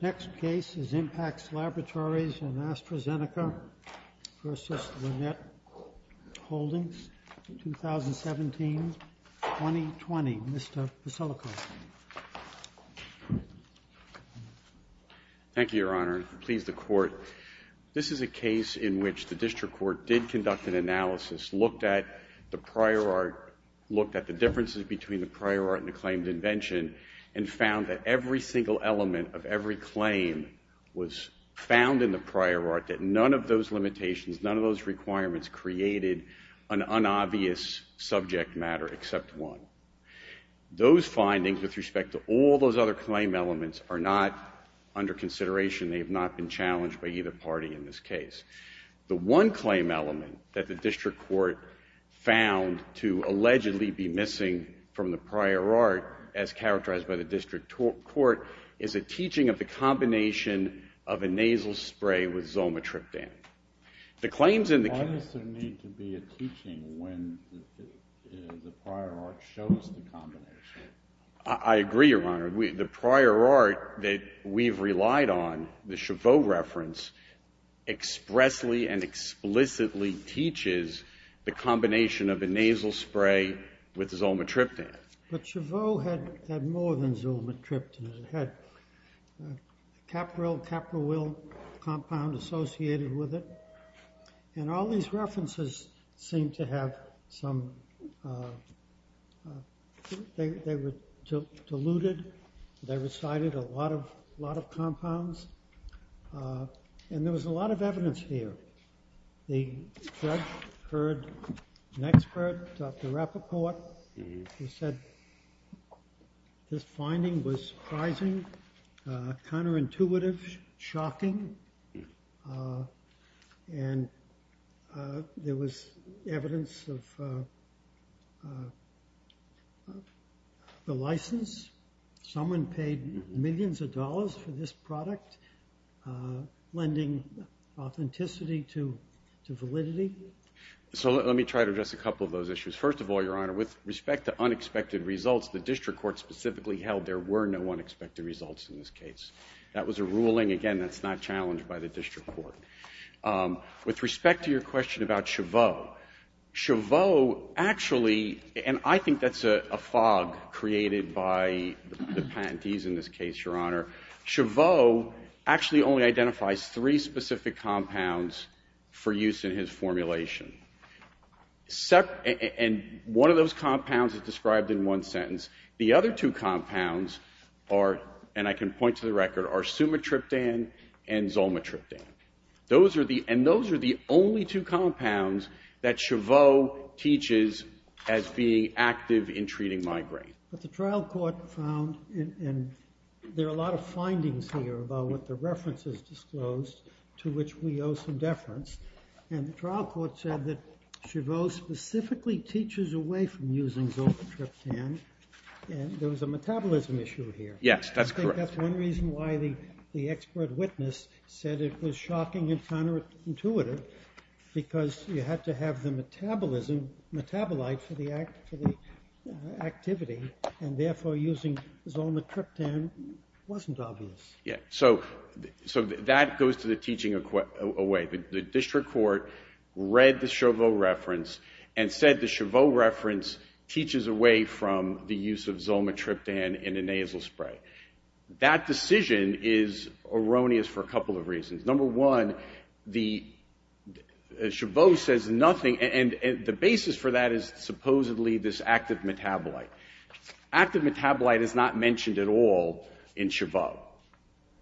The next case is Impacts Laboratories in AstraZeneca v. Lynette Holdings, 2017-2020, Mr. Veselikoff. Thank you, Your Honor. Please, the Court. This is a case in which the District Court did conduct an analysis, looked at the prior art, looked at the differences between the prior art and the claimed invention, and found that every single element of every claim was found in the prior art, that none of those limitations, none of those requirements created an unobvious subject matter except one. Those findings, with respect to all those other claim elements, are not under consideration. They have not been challenged by either party in this case. The one claim element that the District Court found to allegedly be missing from the prior art, as characterized by the District Court, is a teaching of the combination of a nasal spray with Zolmatriptan. The claims in the case of the prior art that we've relied on, the Chaveau reference, expressly and explicitly teaches the combination of a nasal spray with Zolmatriptan. But Chaveau had more than Zolmatriptan, it had Capryl-Capryl compound associated with it, and all these references seem to have some, they were diluted, they recited a lot of compounds, and there was a lot of evidence here. The judge heard an expert, Dr. Rappaport, who said this finding was surprising, counterintuitive, shocking, and there was evidence of the license. Someone paid millions of dollars for this product, lending authenticity to validity. So let me try to address a couple of those issues. First of all, Your Honor, with respect to unexpected results, the District Court specifically held there were no unexpected results in this case. That was a ruling, again, that's not challenged by the District Court. With respect to your question about Chaveau, Chaveau actually, and I think that's a fog created by the patentees in this case, Your Honor, Chaveau actually only identifies three specific compounds for use in his formulation. And one of those compounds is described in one sentence. The other two compounds are, and I can point to the record, are Sumatriptan and Zolmatriptan. Those are the, and those are the only two compounds that Chaveau teaches as being active in treating migraine. But the trial court found, and there are a lot of findings here about what the reference has disclosed, to which we owe some deference, and the trial court said that Chaveau specifically teaches away from using Zolmatriptan, and there was a metabolism issue here. Yes, that's correct. That's one reason why the expert witness said it was shocking and counterintuitive, because you had to have the metabolism metabolite for the activity, and therefore using Zolmatriptan wasn't obvious. Yes, so that goes to the teaching away. The District Court read the Chaveau reference and said the Chaveau reference teaches away from the use of Zolmatriptan in a nasal spray. That decision is erroneous for a couple of reasons. Number one, the, Chaveau says nothing, and the basis for that is supposedly this active metabolite. Active metabolite is not mentioned at all in Chaveau.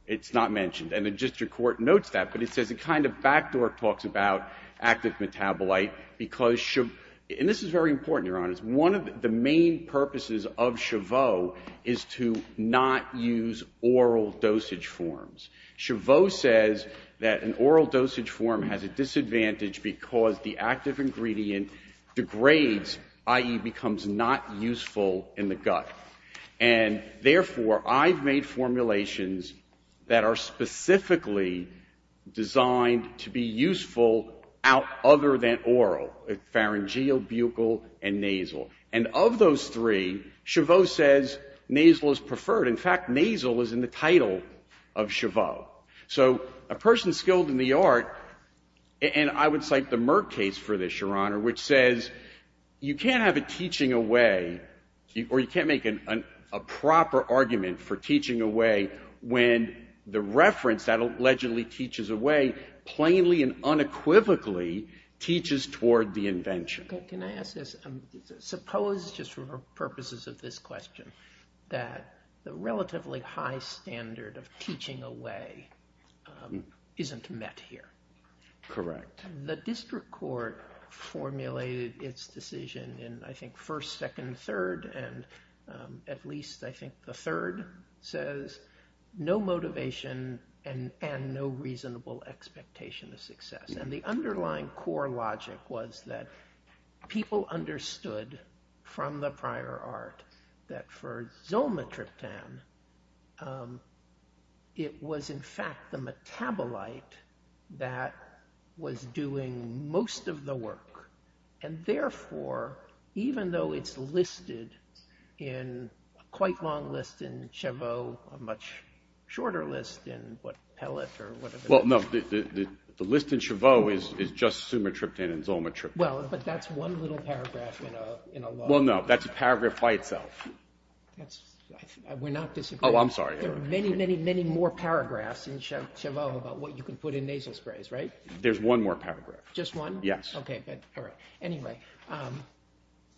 It's not mentioned, and the District Court notes that, but it says it kind of backdork talks about active metabolite, because Chaveau, and this is very important, Your Honors. One of the main purposes of Chaveau is to not use oral dosage forms. Chaveau says that an oral dosage form has a disadvantage because the active ingredient degrades, i.e. becomes not useful in the gut, and therefore I've made formulations that are specifically designed to be useful out other than oral, pharyngeal, buccal, and nasal. And of those three, Chaveau says nasal is preferred. In fact, nasal is in the title of Chaveau. So a person skilled in the art, and I would cite the Merck case for this, Your Honor, which says you can't have a teaching away, or you can't make a proper argument for teaching away when the reference, that allegedly teaches away, plainly and unequivocally teaches toward the invention. Okay, can I ask this? Suppose just for purposes of this question, that the relatively high standard of teaching away isn't met here. Correct. The District Court formulated its decision in, I think, first, second, third, and at no motivation and no reasonable expectation of success. And the underlying core logic was that people understood from the prior art that for zolmatriptan, it was in fact the metabolite that was doing most of the work. And therefore, even though it's listed in a quite long list in Chaveau, a much shorter list in what, Pellet or whatever. Well, no, the list in Chaveau is just sumatriptan and zolmatriptan. Well, but that's one little paragraph in a long list. Well, no, that's a paragraph by itself. That's, we're not disagreeing. Oh, I'm sorry, Your Honor. There are many, many, many more paragraphs in Chaveau about what you can put in nasal sprays, right? There's one more paragraph. Just one? Yes. Okay, good. All right. Anyway,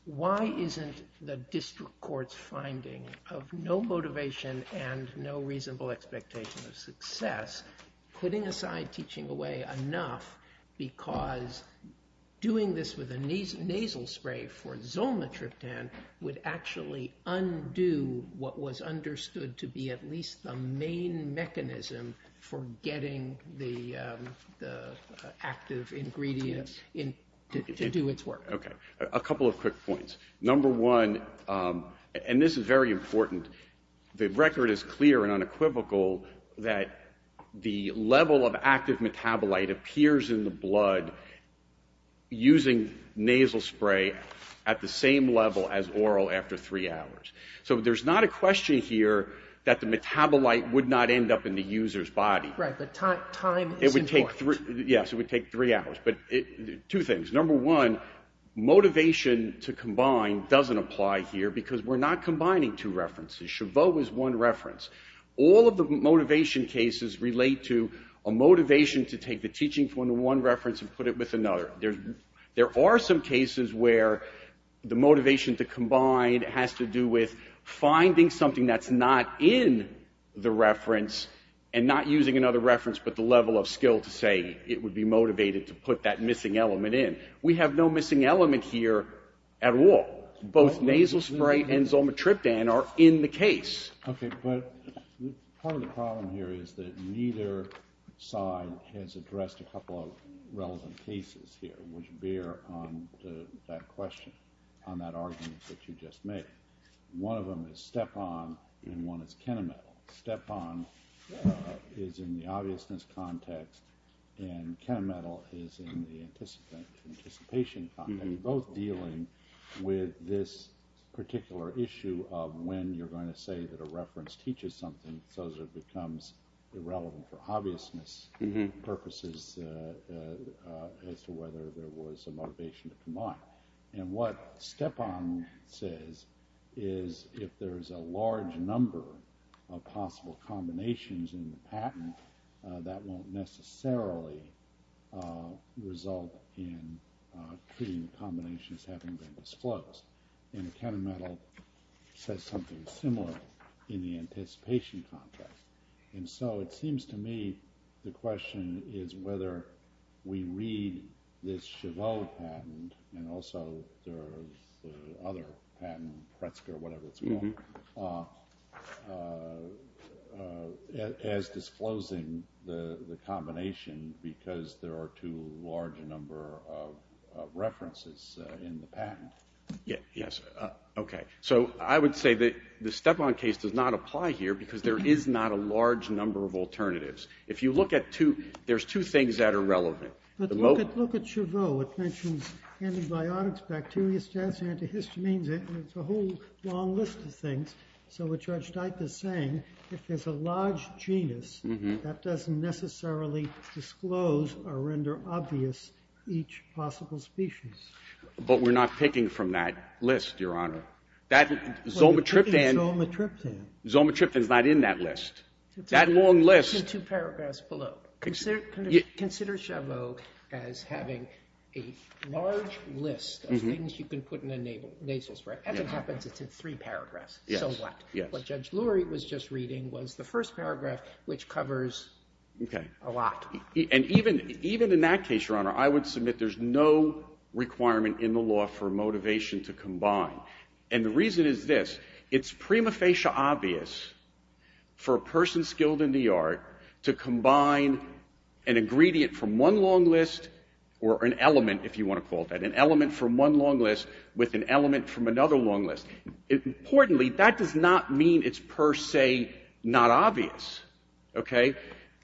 why isn't the district court's finding of no motivation and no reasonable expectation of success putting aside teaching away enough because doing this with a nasal spray for zolmatriptan would actually undo what was understood to be at least the main mechanism for getting the active ingredients to do its work? Okay. A couple of quick points. Number one, and this is very important, the record is clear and unequivocal that the level of active metabolite appears in the blood using nasal spray at the same level as oral after three hours. So there's not a question here that the metabolite would not end up in the user's body. Right. But time is important. Yes. It would take three hours. But two things. Number one, motivation to combine doesn't apply here because we're not combining two references. Chaveau is one reference. All of the motivation cases relate to a motivation to take the teaching from one reference and put it with another. There are some cases where the motivation to combine has to do with finding something that's not in the reference and not using another reference but the level of skill to say it would be motivated to put that missing element in. We have no missing element here at all. Both nasal spray and zolmatriptan are in the case. Okay. But part of the problem here is that neither side has addressed a couple of relevant cases here which bear on that question, on that argument that you just made. One of them is Stepan and one is Kenametal. Stepan is in the obviousness context and Kenametal is in the anticipation context. And they're both dealing with this particular issue of when you're going to say that a reference teaches something so that it becomes irrelevant for obviousness purposes as to whether there was a motivation to combine. And what Stepan says is if there's a large number of possible combinations in the patent that won't necessarily result in treating the combinations having been disclosed. And Kenametal says something similar in the anticipation context. And so it seems to me the question is whether we read this Chabot patent and also the other patent, Pretzker, whatever it's called, as disclosing the combination because there are too large a number of references in the patent. Yes. Okay. So I would say that the Stepan case does not apply here because there is not a large number of alternatives. If you look at two, there's two things that are relevant. But look at Chabot. It mentions antibiotics, bacteria, stents, antihistamines. It's a whole long list of things. So what Judge Dike is saying, if there's a large genus that doesn't necessarily disclose or render obvious each possible species. But we're not picking from that list, Your Honor. That Zomatriptan is not in that list. That long list. It's in two paragraphs below. Consider Chabot as having a large list of things you can put in a nasal spray. As it happens, it's in three paragraphs. So what? What Judge Lurie was just reading was the first paragraph, which covers a lot. And even in that case, Your Honor, I would submit there's no requirement in the law for motivation to combine. And the reason is this. It's prima facie obvious for a person skilled in the art to combine an ingredient from one long list or an element, if you want to call it that, an element from one long list with an element from another long list. Importantly, that does not mean it's per se not obvious, okay?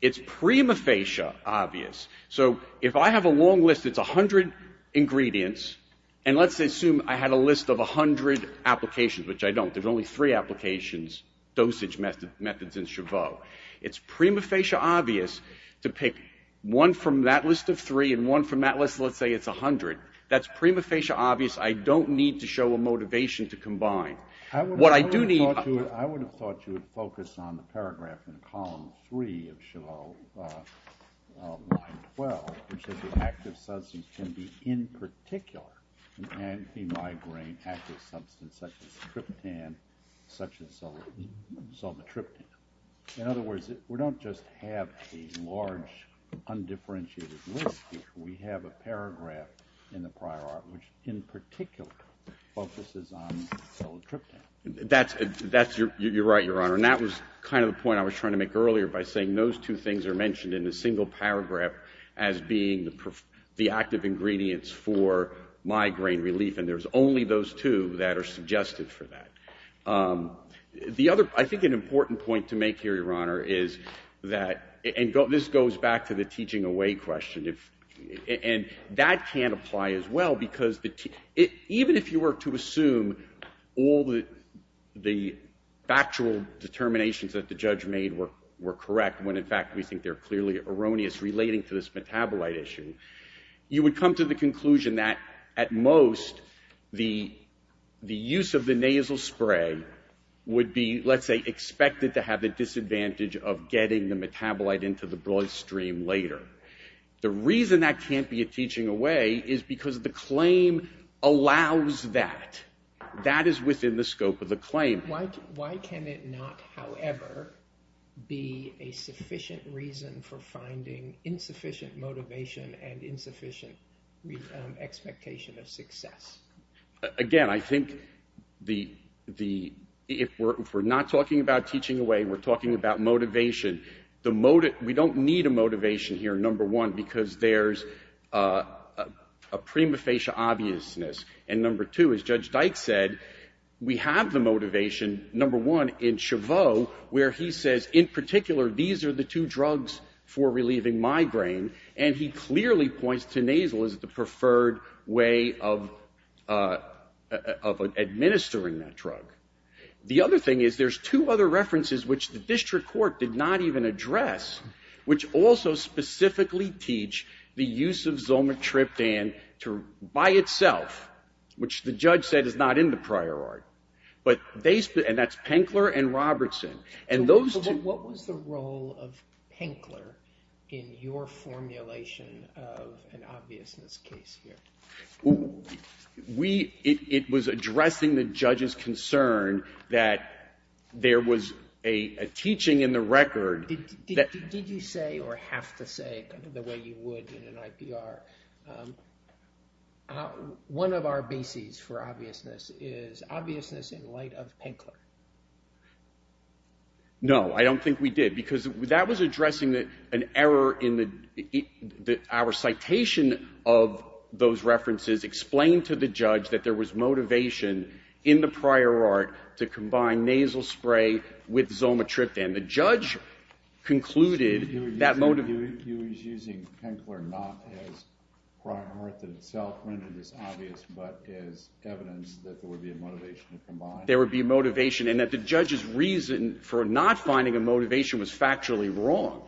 It's prima facie obvious. So if I have a long list, it's 100 ingredients. And let's assume I had a list of 100 applications, which I don't. There's only three applications, dosage methods in Chabot. It's prima facie obvious to pick one from that list of three and one from that list of, let's say, it's 100. That's prima facie obvious. I don't need to show a motivation to combine. What I do need- I would have thought you would focus on the paragraph in column three of Chabot, line 12, which says the active substance can be in particular an anti-migraine active substance such as tryptan, such as sobatryptan. In other words, we don't just have a large undifferentiated list here. We have a paragraph in the prior art which in particular focuses on sobatryptan. That's- you're right, Your Honor. And that was kind of the point I was trying to make earlier by saying those two things are mentioned in a single paragraph as being the active ingredients for migraine relief. And there's only those two that are suggested for that. I think an important point to make here, Your Honor, is that- and this goes back to the teaching away question. And that can apply as well because even if you were to assume all the factual determinations that the judge made were correct, when in fact we think they're clearly erroneous relating to this metabolite issue, you would come to the conclusion that at most the use of the nasal spray would be, let's say, expected to have the disadvantage of getting the metabolite into the bloodstream later. The reason that can't be a teaching away is because the claim allows that. That is within the scope of the claim. Why can it not, however, be a sufficient reason for finding insufficient motivation and insufficient expectation of success? Again, I think the- if we're not talking about teaching away, we're talking about motivation. The motive- we don't need a motivation here, number one, because there's a prima facie obviousness. And number two, as Judge Dyke said, we have the motivation, number one, in Chaveau where he says, in particular, these are the two drugs for relieving migraine. And he clearly points to nasal as the preferred way of administering that drug. The other thing is, there's two other references which the district court did not even address, which also specifically teach the use of Zolmetriptan to- by itself, which the judge said is not in the prior art, but they- and that's Penkler and Robertson. And those- What was the role of Penkler in your formulation of an obviousness case here? We- it was addressing the judge's concern that there was a teaching in the record that- Did you say, or have to say, the way you would in an IPR? One of our bases for obviousness is obviousness in light of Penkler. No, I don't think we did, because that was addressing an error in the- our citation of those references explained to the judge that there was motivation in the prior art to combine nasal spray with Zolmetriptan. The judge concluded that motive- So you were using Penkler not as prior art in itself, rendered as obvious, but as evidence that there would be a motivation to combine? There would be a motivation, and that the judge's reason for not finding a motivation was factually wrong.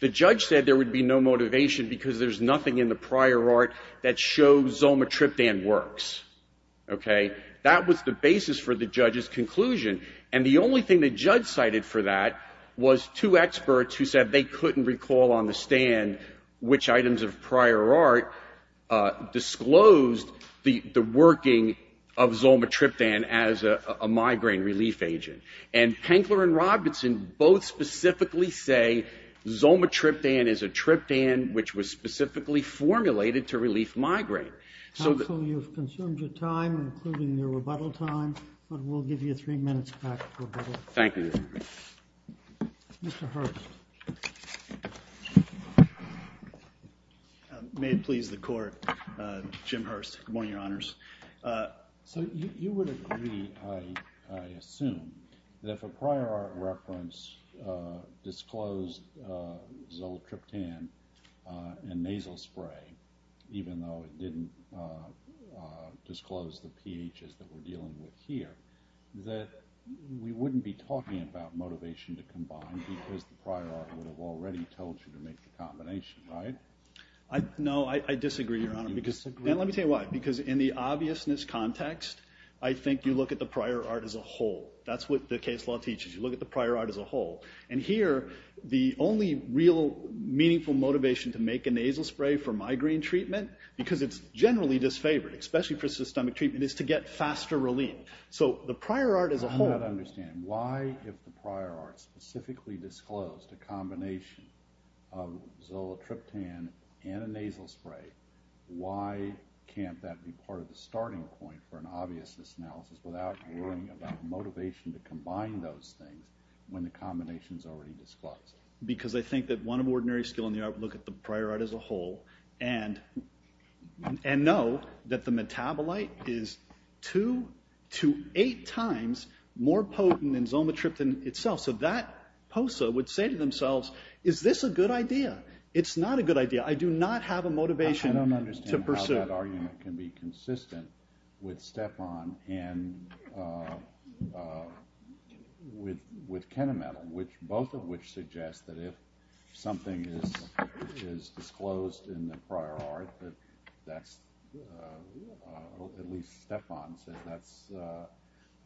The judge said there would be no motivation because there's nothing in the prior art that shows Zolmetriptan works, okay? That was the basis for the judge's conclusion, and the only thing the judge cited for that was two experts who said they couldn't recall on the stand which items of prior art disclosed the working of Zolmetriptan as a migraine relief agent. And Penkler and Robinson both specifically say Zolmetriptan is a triptan which was specifically formulated to relief migraine. Counsel, you've consumed your time, including your rebuttal time, but we'll give you three minutes back for rebuttal. Thank you. Mr. Hurst. May it please the court, Jim Hurst. Good morning, your honors. So you would agree, I assume, that if a prior art reference disclosed Zolmetriptan and nasal spray, even though it didn't disclose the pHs that we're dealing with here, that we wouldn't be talking about motivation to combine because the prior art would have already told you to make the combination, right? No, I disagree, your honor. You disagree? No. And let me tell you why. Because in the obviousness context, I think you look at the prior art as a whole. That's what the case law teaches. You look at the prior art as a whole. And here, the only real meaningful motivation to make a nasal spray for migraine treatment, because it's generally disfavored, especially for systemic treatment, is to get faster relief. So the prior art as a whole... I'm not understanding. Why, if the prior art specifically disclosed a combination of Zolmetriptan and a nasal spray, why can't that be part of the starting point for an obviousness analysis without worrying about motivation to combine those things when the combination's already disclosed? Because I think that one of ordinary skill in the art would look at the prior art as a whole and know that the metabolite is 2 to 8 times more potent than Zolmetriptan itself. So that POSA would say to themselves, is this a good idea? It's not a good idea. I do not have a motivation to pursue. I don't understand how that argument can be consistent with Stepron and with Kenametal, both of which suggest that if something is disclosed in the prior art, that's, at least Stepron says, that's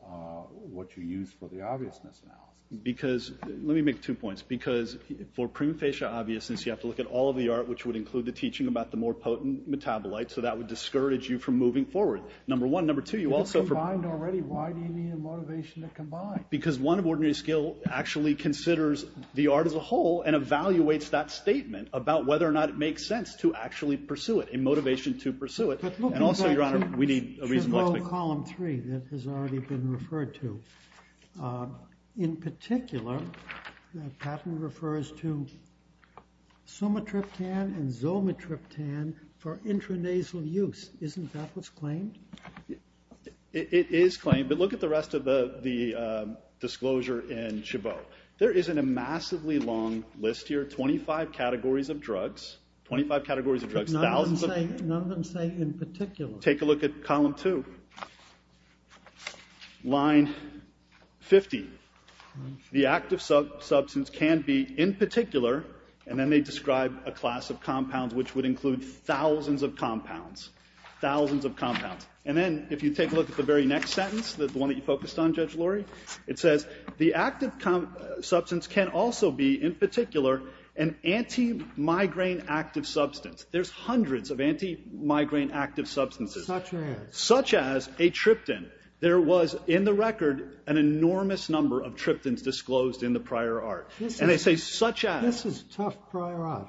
what you use for the obviousness analysis. Because, let me make two points. Because for prima facie obviousness, you have to look at all of the art, which would include the teaching about the more potent metabolites, so that would discourage you from moving forward. Number one. Number two, you also... If it's combined already, why do you need a motivation to combine? Because one of ordinary skill actually considers the art as a whole and evaluates that statement about whether or not it makes sense to actually pursue it, a motivation to pursue it. And also, your honor, we need a reasonable explanation. But look at that two... ...column three that has already been referred to. In particular, that pattern refers to somatriptan and zolmetriptan for intranasal use. Isn't that what's claimed? It is claimed, but look at the rest of the disclosure in Chabot. There isn't a massively long list here, twenty-five categories of drugs, twenty-five categories of drugs. None of them say in particular. Take a look at column two. Line fifty. The active substance can be in particular, and then they describe a class of compounds which would include thousands of compounds. Thousands of compounds. And then, if you take a look at the very next sentence, the one that you focused on, Judge Lurie, it says, the active substance can also be in particular an anti-migraine active substance. There's hundreds of anti-migraine active substances. Such as? Such as a tryptan. There was, in the record, an enormous number of tryptans disclosed in the prior art. And they say such as. This is tough prior art.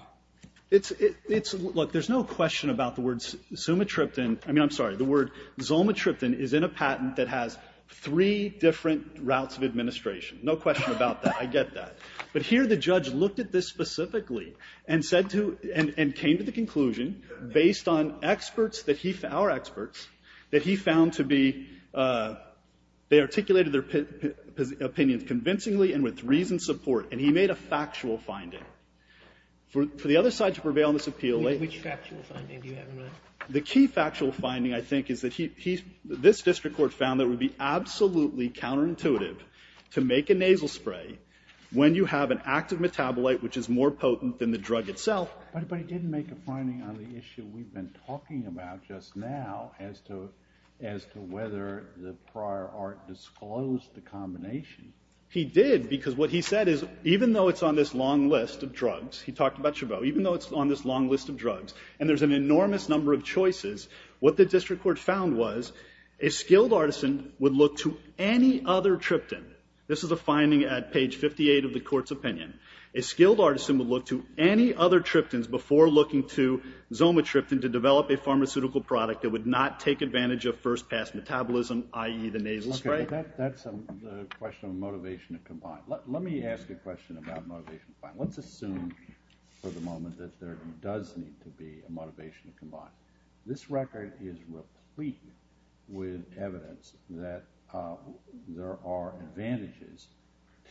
It's, it's, look, there's no question about the word zumatryptan, I mean, I'm sorry, the word zomatryptan is in a patent that has three different routes of administration. No question about that. I get that. But here the judge looked at this specifically and said to, and, and came to the conclusion based on experts that he, our experts, that he found to be, they articulated their opinions convincingly and with reasoned support, and he made a factual finding. For, for the other side to prevail on this appeal, they. Which factual finding do you have in mind? The key factual finding, I think, is that he, he, this district court found that it would be absolutely counterintuitive to make a nasal spray when you have an active metabolite which is more potent than the drug itself. But, but he didn't make a finding on the issue we've been talking about just now as to, as to whether the prior art disclosed the combination. He did because what he said is even though it's on this long list of drugs, he talked about Chabot, even though it's on this long list of drugs, and there's an enormous number of choices, what the district court found was a skilled artisan would look to any other tryptan, this is a finding at page 58 of the court's opinion, a skilled artisan would look to any other tryptans before looking to zomatryptan to develop a pharmaceutical product that would not take advantage of first pass metabolism, i.e. the nasal spray. Okay, that's a question of motivation to combine. Let me ask a question about motivation to combine. Let's assume for the moment that there does need to be a motivation to combine. This record is replete with evidence that there are advantages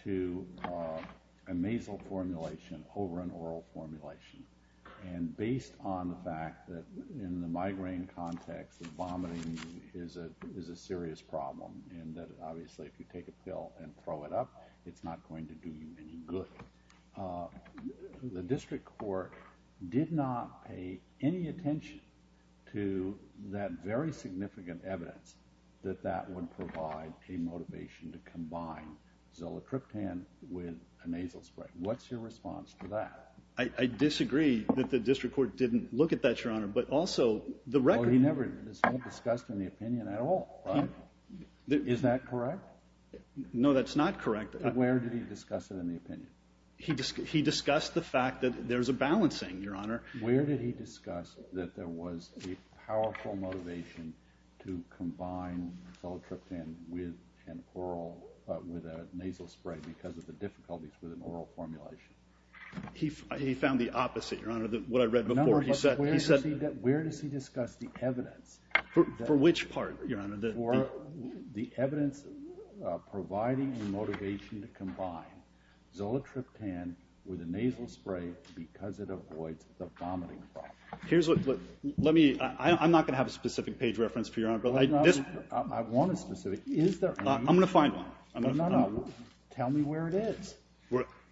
to a nasal formulation over an oral formulation, and based on the fact that in the migraine context, vomiting is a serious problem, and that obviously if you take a pill and throw it up, it's not going to do you any good, the district court did not pay any attention to that very significant evidence that that would provide a motivation to combine zomatryptan with a nasal spray. What's your response to that? I disagree that the district court didn't look at that, Your Honor, but also the record He never discussed it in the opinion at all. Is that correct? No, that's not correct. Where did he discuss it in the opinion? He discussed the fact that there's a balancing, Your Honor. Where did he discuss that there was a powerful motivation to combine zomatryptan with a nasal spray because of the difficulties with an oral formulation? He found the opposite, Your Honor, what I read before. But where does he discuss the evidence? For which part, Your Honor? The evidence providing the motivation to combine zomatryptan with a nasal spray because it avoids the vomiting problem. Let me, I'm not going to have a specific page reference for Your Honor, but I want a specific, is there any? I'm going to find one. No, no, tell me where it is.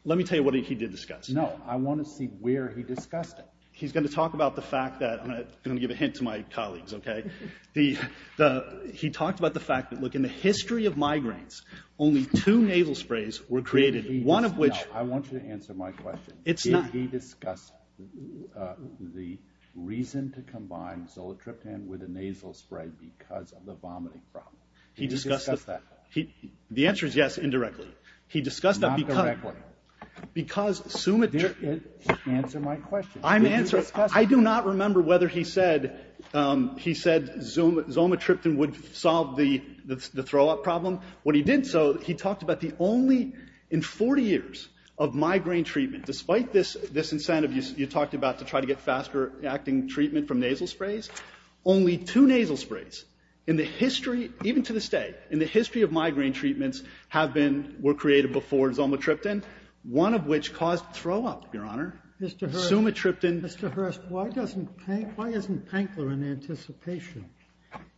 Let me tell you what he did discuss. No, I want to see where he discussed it. He's going to talk about the fact that, I'm going to give a hint to my colleagues, okay? He talked about the fact that, look, in the history of migraines, only two nasal sprays were created. One of which... I want you to answer my question. It's not... Did he discuss the reason to combine zomatryptan with a nasal spray because of the vomiting problem? He discussed... Did he discuss that? The answer is yes, indirectly. He discussed that because... Not directly. Because zomatryptan... Answer my question. I do not remember whether he said zomatryptan would solve the throw-up problem. When he did so, he talked about the only... In 40 years of migraine treatment, despite this incentive you talked about to try to get faster-acting treatment from nasal sprays, only two nasal sprays in the history, even to this day, in the history of migraine treatments have been, were created before zomatryptan, one of which caused throw-up, Your Honor. Mr. Hurst... Zomatryptan... Mr. Hurst, why doesn't... Why isn't Pankler in anticipation?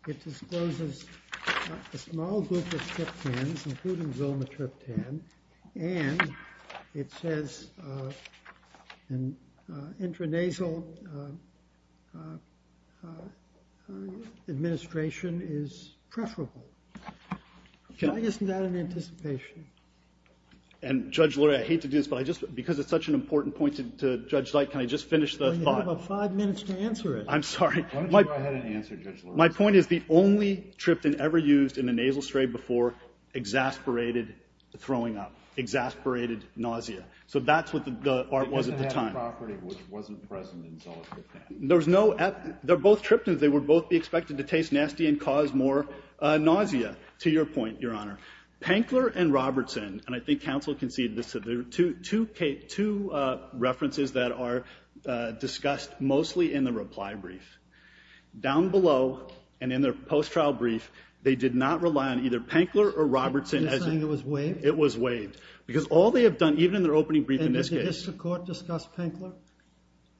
It discloses a small group of tryptans, including zomatryptan, and it says intranasal administration is preferable. Okay. Why isn't that in anticipation? And, Judge Lurie, I hate to do this, but I just... Because it's such an important point to Judge Zeit, can I just finish the thought? Well, you have about five minutes to answer it. I'm sorry. Why don't you go ahead and answer, Judge Lurie? My point is the only tryptan ever used in a nasal spray before exasperated throwing up, exasperated nausea. So that's what the art was at the time. It doesn't have the property which wasn't present in zomatryptan. There's no... They're both tryptans. They would both be expected to taste nasty and cause more nausea, to your point, Your Honor. Pankler and Robertson, and I think counsel conceded this, there are two references that are discussed mostly in the reply brief. Down below and in their post-trial brief, they did not rely on either Pankler or Robertson as... You're saying it was waived? It was waived. Because all they have done, even in their opening brief in this case... And did the district court discuss Pankler?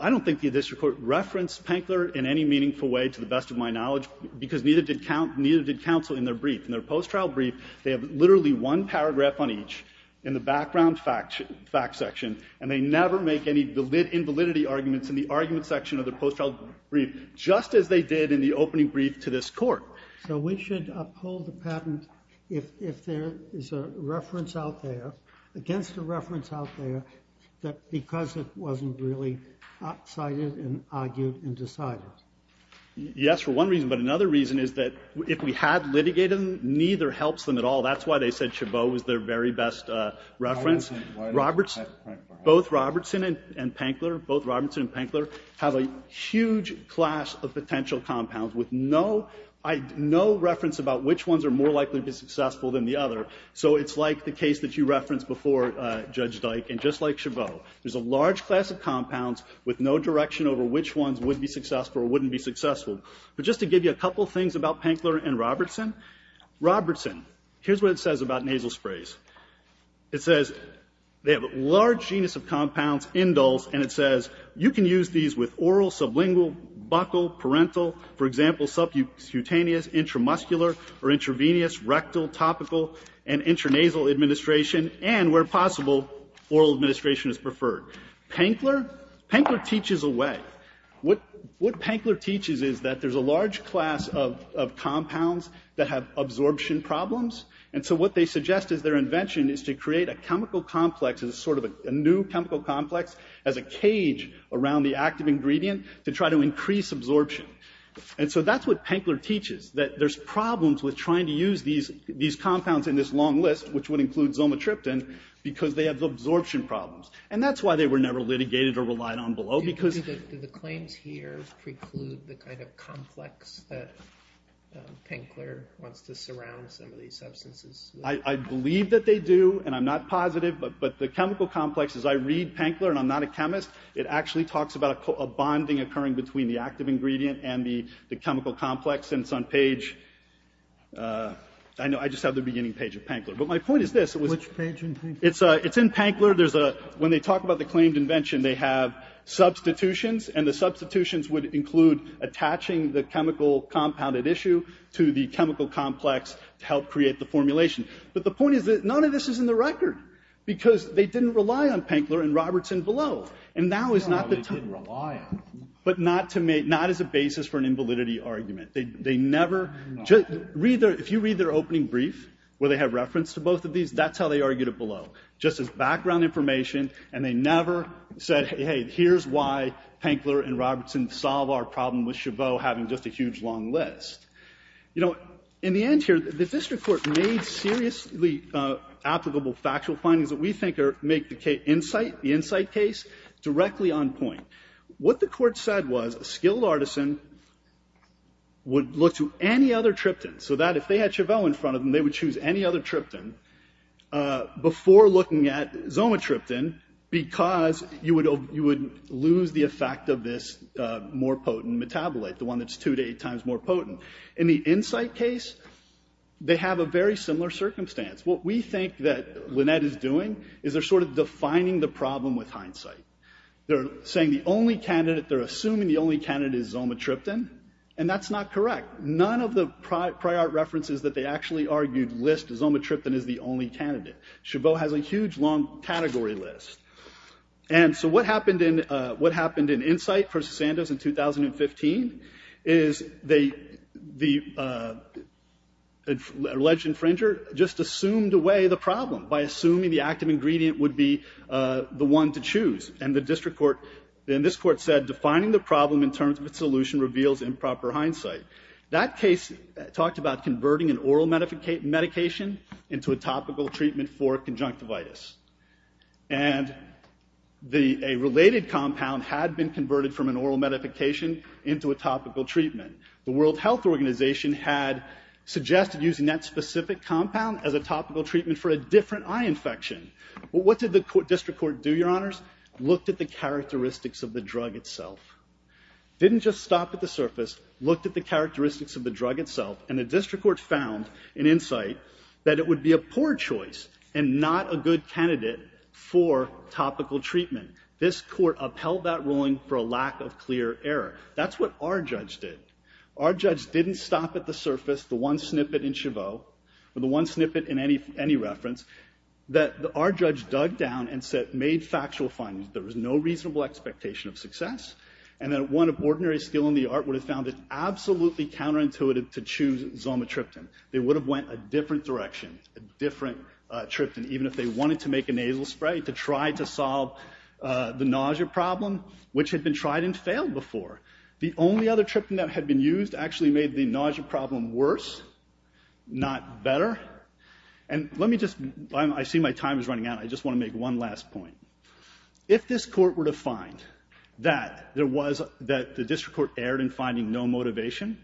I don't think the district court referenced Pankler in any meaningful way, to the best of my knowledge, because neither did counsel in their brief. They have literally one paragraph on each in the background fact section, and they never make any invalidity arguments in the argument section of their post-trial brief, just as they did in the opening brief to this court. So we should uphold the patent if there is a reference out there, against a reference out there, that because it wasn't really cited and argued and decided. Yes, for one reason. But another reason is that if we had litigated them, neither helps them at all. That's why they said Chabot was their very best reference. Both Robertson and Pankler have a huge class of potential compounds with no reference about which ones are more likely to be successful than the other. So it's like the case that you referenced before, Judge Dyke. And just like Chabot, there's a large class of compounds with no direction over which ones would be successful or wouldn't be successful. But just to give you a couple things about Pankler and Robertson, Robertson, here's what it says about nasal sprays. It says they have a large genus of compounds, indols, and it says you can use these with oral, sublingual, buccal, parental, for example, subcutaneous, intramuscular, or intravenous, rectal, topical, and intranasal administration, and where possible, oral administration is preferred. Pankler, Pankler teaches away. What Pankler teaches is that there's a large class of compounds that have absorption problems. And so what they suggest as their invention is to create a chemical complex, as a sort of a new chemical complex, as a cage around the active ingredient to try to increase absorption. And so that's what Pankler teaches, that there's problems with trying to use these compounds in this long list, which would include zomatriptan, because they have absorption problems. And that's why they were never litigated or relied on below, because... Do the claims here preclude the kind of complex that Pankler wants to surround some of these substances with? I believe that they do, and I'm not positive, but the chemical complex, as I read Pankler, and I'm not a chemist, it actually talks about a bonding occurring between the active ingredient and the chemical complex. And it's on page, I know I just have the beginning page of Pankler. But my point is this. Which page in Pankler? It's in Pankler. When they talk about the claimed invention, they have substitutions, and the substitutions would include attaching the chemical compounded issue to the chemical complex to help create the formulation. But the point is that none of this is in the record, because they didn't rely on Pankler and Robertson below. And now is not the time. No, they didn't rely on them. But not as a basis for an invalidity argument. They never... If you read their opening brief, where they have reference to both of these, that's how they argued it below. Just as background information. And they never said, hey, hey, here's why Pankler and Robertson solve our problem with Chabot having just a huge long list. You know, in the end here, the district court made seriously applicable factual findings that we think make the insight case directly on point. What the court said was, a skilled artisan would look to any other triptan, so that if they had Chabot in front of them, they would choose any other triptan before looking at Zomatriptan, because you would lose the effect of this more potent metabolite, the one that's two to eight times more potent. In the insight case, they have a very similar circumstance. What we think that Lynette is doing is they're sort of defining the problem with hindsight. They're saying the only candidate, they're assuming the only candidate is Zomatriptan, and that's not correct. None of the prior references that they actually argued list Zomatriptan as the only candidate. Chabot has a huge long category list. And so what happened in insight versus Sandoz in 2015 is the alleged infringer just assumed away the problem by assuming the active ingredient would be the one to choose. And the district court, and this court said, defining the problem in terms of its solution reveals improper hindsight. That case talked about converting an oral medication into a topical treatment for conjunctivitis. And a related compound had been converted from an oral medification into a topical treatment. The World Health Organization had suggested using that specific compound as a topical treatment for a different eye infection. What did the district court do, your honors? Looked at the characteristics of the drug itself. Didn't just stop at the surface, looked at the characteristics of the drug itself, and the district court found in insight that it would be a poor choice and not a good candidate for topical treatment. This court upheld that ruling for a lack of clear error. That's what our judge did. Our judge didn't stop at the surface, the one snippet in Chabot, or the one snippet in any reference, that our judge dug down and made factual findings. There was no reasonable expectation of success. And that one of ordinary skill in the art would have found it absolutely counterintuitive to choose zomotriptan. They would have went a different direction, a different triptan, even if they wanted to make a nasal spray to try to solve the nausea problem, which had been tried and failed before. The only other triptan that had been used actually made the nausea problem worse, not better. And let me just, I see my time is running out, I just want to make one last point. If this court were to find that there was, that the district court erred in finding no motivation,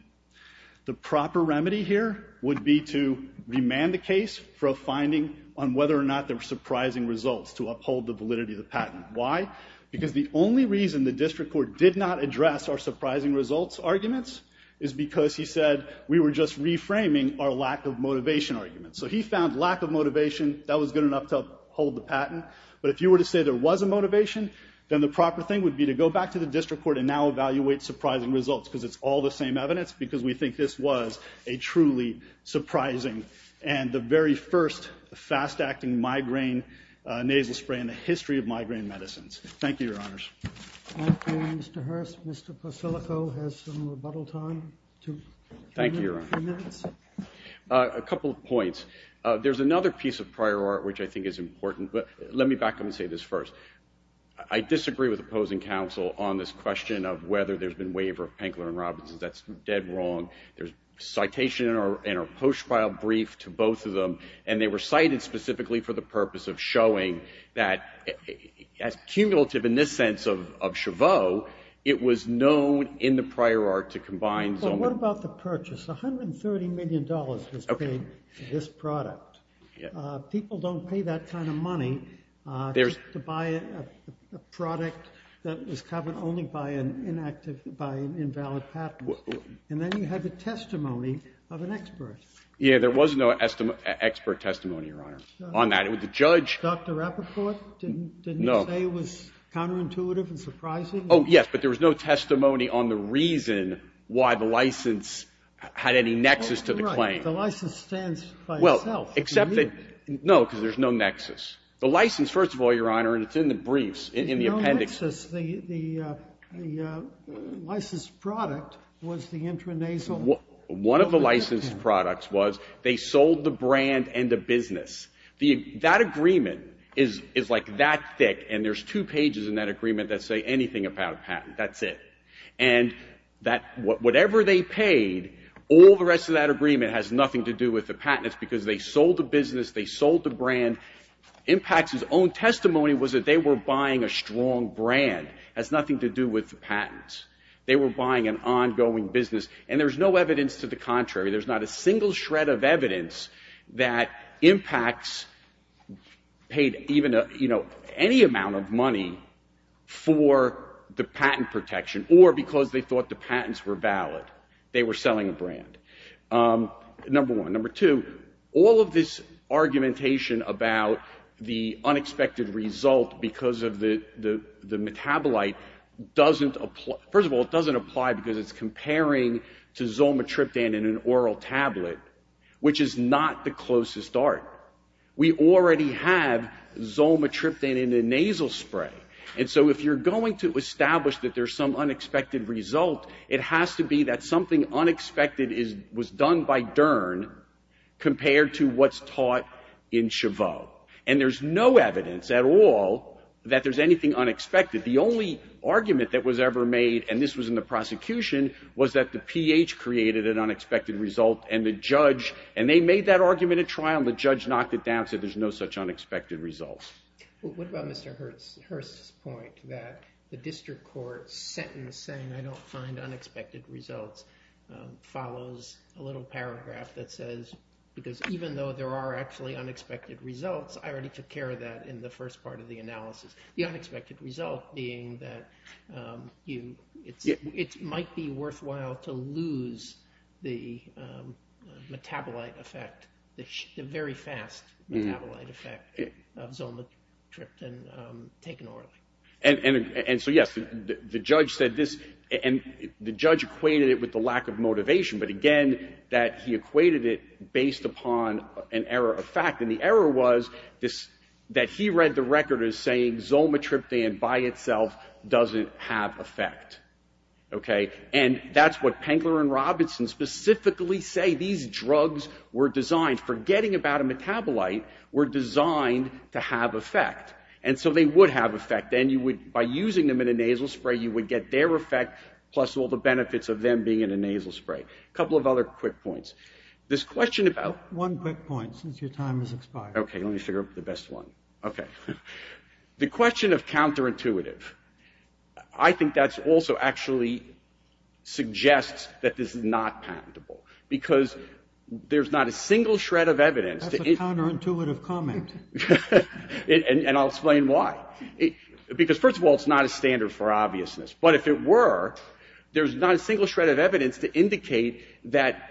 the proper remedy here would be to remand the case for a finding on whether or not there were surprising results to uphold the validity of the patent, why? Because the only reason the district court did not address our surprising results arguments is because he said we were just reframing our lack of motivation arguments. So he found lack of motivation, that was good enough to hold the patent. But if you were to say there was a motivation, then the proper thing would be to go back to the district court and now evaluate surprising results, because it's all the same evidence, because we think this was a truly surprising and the very first fast-acting migraine nasal spray in the history of migraine medicines. Thank you, your honors. Thank you, Mr. Hurst. Mr. Persilico has some rebuttal time, two, three minutes. Thank you, your honor. A couple of points. There's another piece of prior art, which I think is important, but let me back up and say this first. I disagree with opposing counsel on this question of whether there's been waiver of Penkler and Robinson. That's dead wrong. There's citation in our post-file brief to both of them, and they were cited specifically for the purpose of showing that as cumulative in this sense of Chaveau, it was known in the prior art to combine so many- Well, what about the purchase? People don't pay that kind of money to buy a product that was covered only by an inactive, by an invalid patent. And then you have the testimony of an expert. Yeah, there was no expert testimony, your honor, on that. It was the judge- Dr. Rappaport didn't say it was counterintuitive and surprising? Oh, yes, but there was no testimony on the reason why the license had any nexus to the claim. The license stands by itself. Except that, no, because there's no nexus. The license, first of all, your honor, and it's in the briefs, in the appendix- No nexus, the licensed product was the intranasal- One of the licensed products was, they sold the brand and the business. That agreement is like that thick, and there's two pages in that agreement that say anything about a patent, that's it. And whatever they paid, all the rest of that agreement has nothing to do with the patents because they sold the business, they sold the brand. Impacts' own testimony was that they were buying a strong brand, has nothing to do with the patents. They were buying an ongoing business, and there's no evidence to the contrary. There's not a single shred of evidence that Impacts paid any amount of money for the patent protection, or because they thought the patents were valid. They were selling a brand, number one. Number two, all of this argumentation about the unexpected result because of the metabolite doesn't apply, first of all, it doesn't apply because it's comparing to Zolmetriptan in an oral tablet, which is not the closest dart. We already have Zolmetriptan in a nasal spray, and so if you're going to establish that there's some unexpected result, it has to be that something unexpected was done by Dern compared to what's taught in Chavot, and there's no evidence at all that there's anything unexpected. The only argument that was ever made, and this was in the prosecution, was that the PH created an unexpected result, and the judge, and they made that argument at trial, and the judge knocked it down, said there's no such unexpected result. What about Mr. Hurst's point that the district court sentence saying I don't find unexpected results follows a little paragraph that says, because even though there are actually unexpected results, I already took care of that in the first part of the analysis. The unexpected result being that it might be worthwhile to lose the metabolite effect, the very fast metabolite effect of Zolmetriptan taken orally. And so yes, the judge said this, and the judge equated it with the lack of motivation, but again, that he equated it based upon an error of fact, and the error was that he read the record as saying Zolmetriptan by itself doesn't have effect, okay? And that's what Pengler and Robinson specifically say. These drugs were designed, forgetting about a metabolite, were designed to have effect, and so they would have effect. Then you would, by using them in a nasal spray, you would get their effect, plus all the benefits of them being in a nasal spray. Couple of other quick points. This question about- One quick point, since your time has expired. Okay, let me figure out the best one, okay. The question of counterintuitive. I think that's also actually suggests that this is not patentable, because there's not a single shred of evidence- That's a counterintuitive comment. And I'll explain why. Because first of all, it's not a standard for obviousness. But if it were, there's not a single shred of evidence to indicate that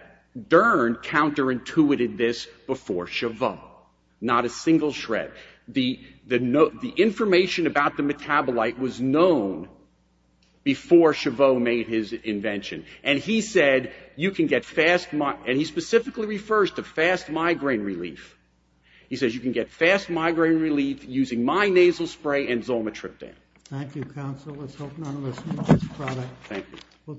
Dern counterintuited this before Chabot. Not a single shred. The information about the metabolite was known before Chabot made his invention. And he said, you can get fast- And he specifically refers to fast migraine relief. He says, you can get fast migraine relief using my nasal spray and Zoma Triptan. Thank you, counsel. Let's hope none of us need this product. Thank you.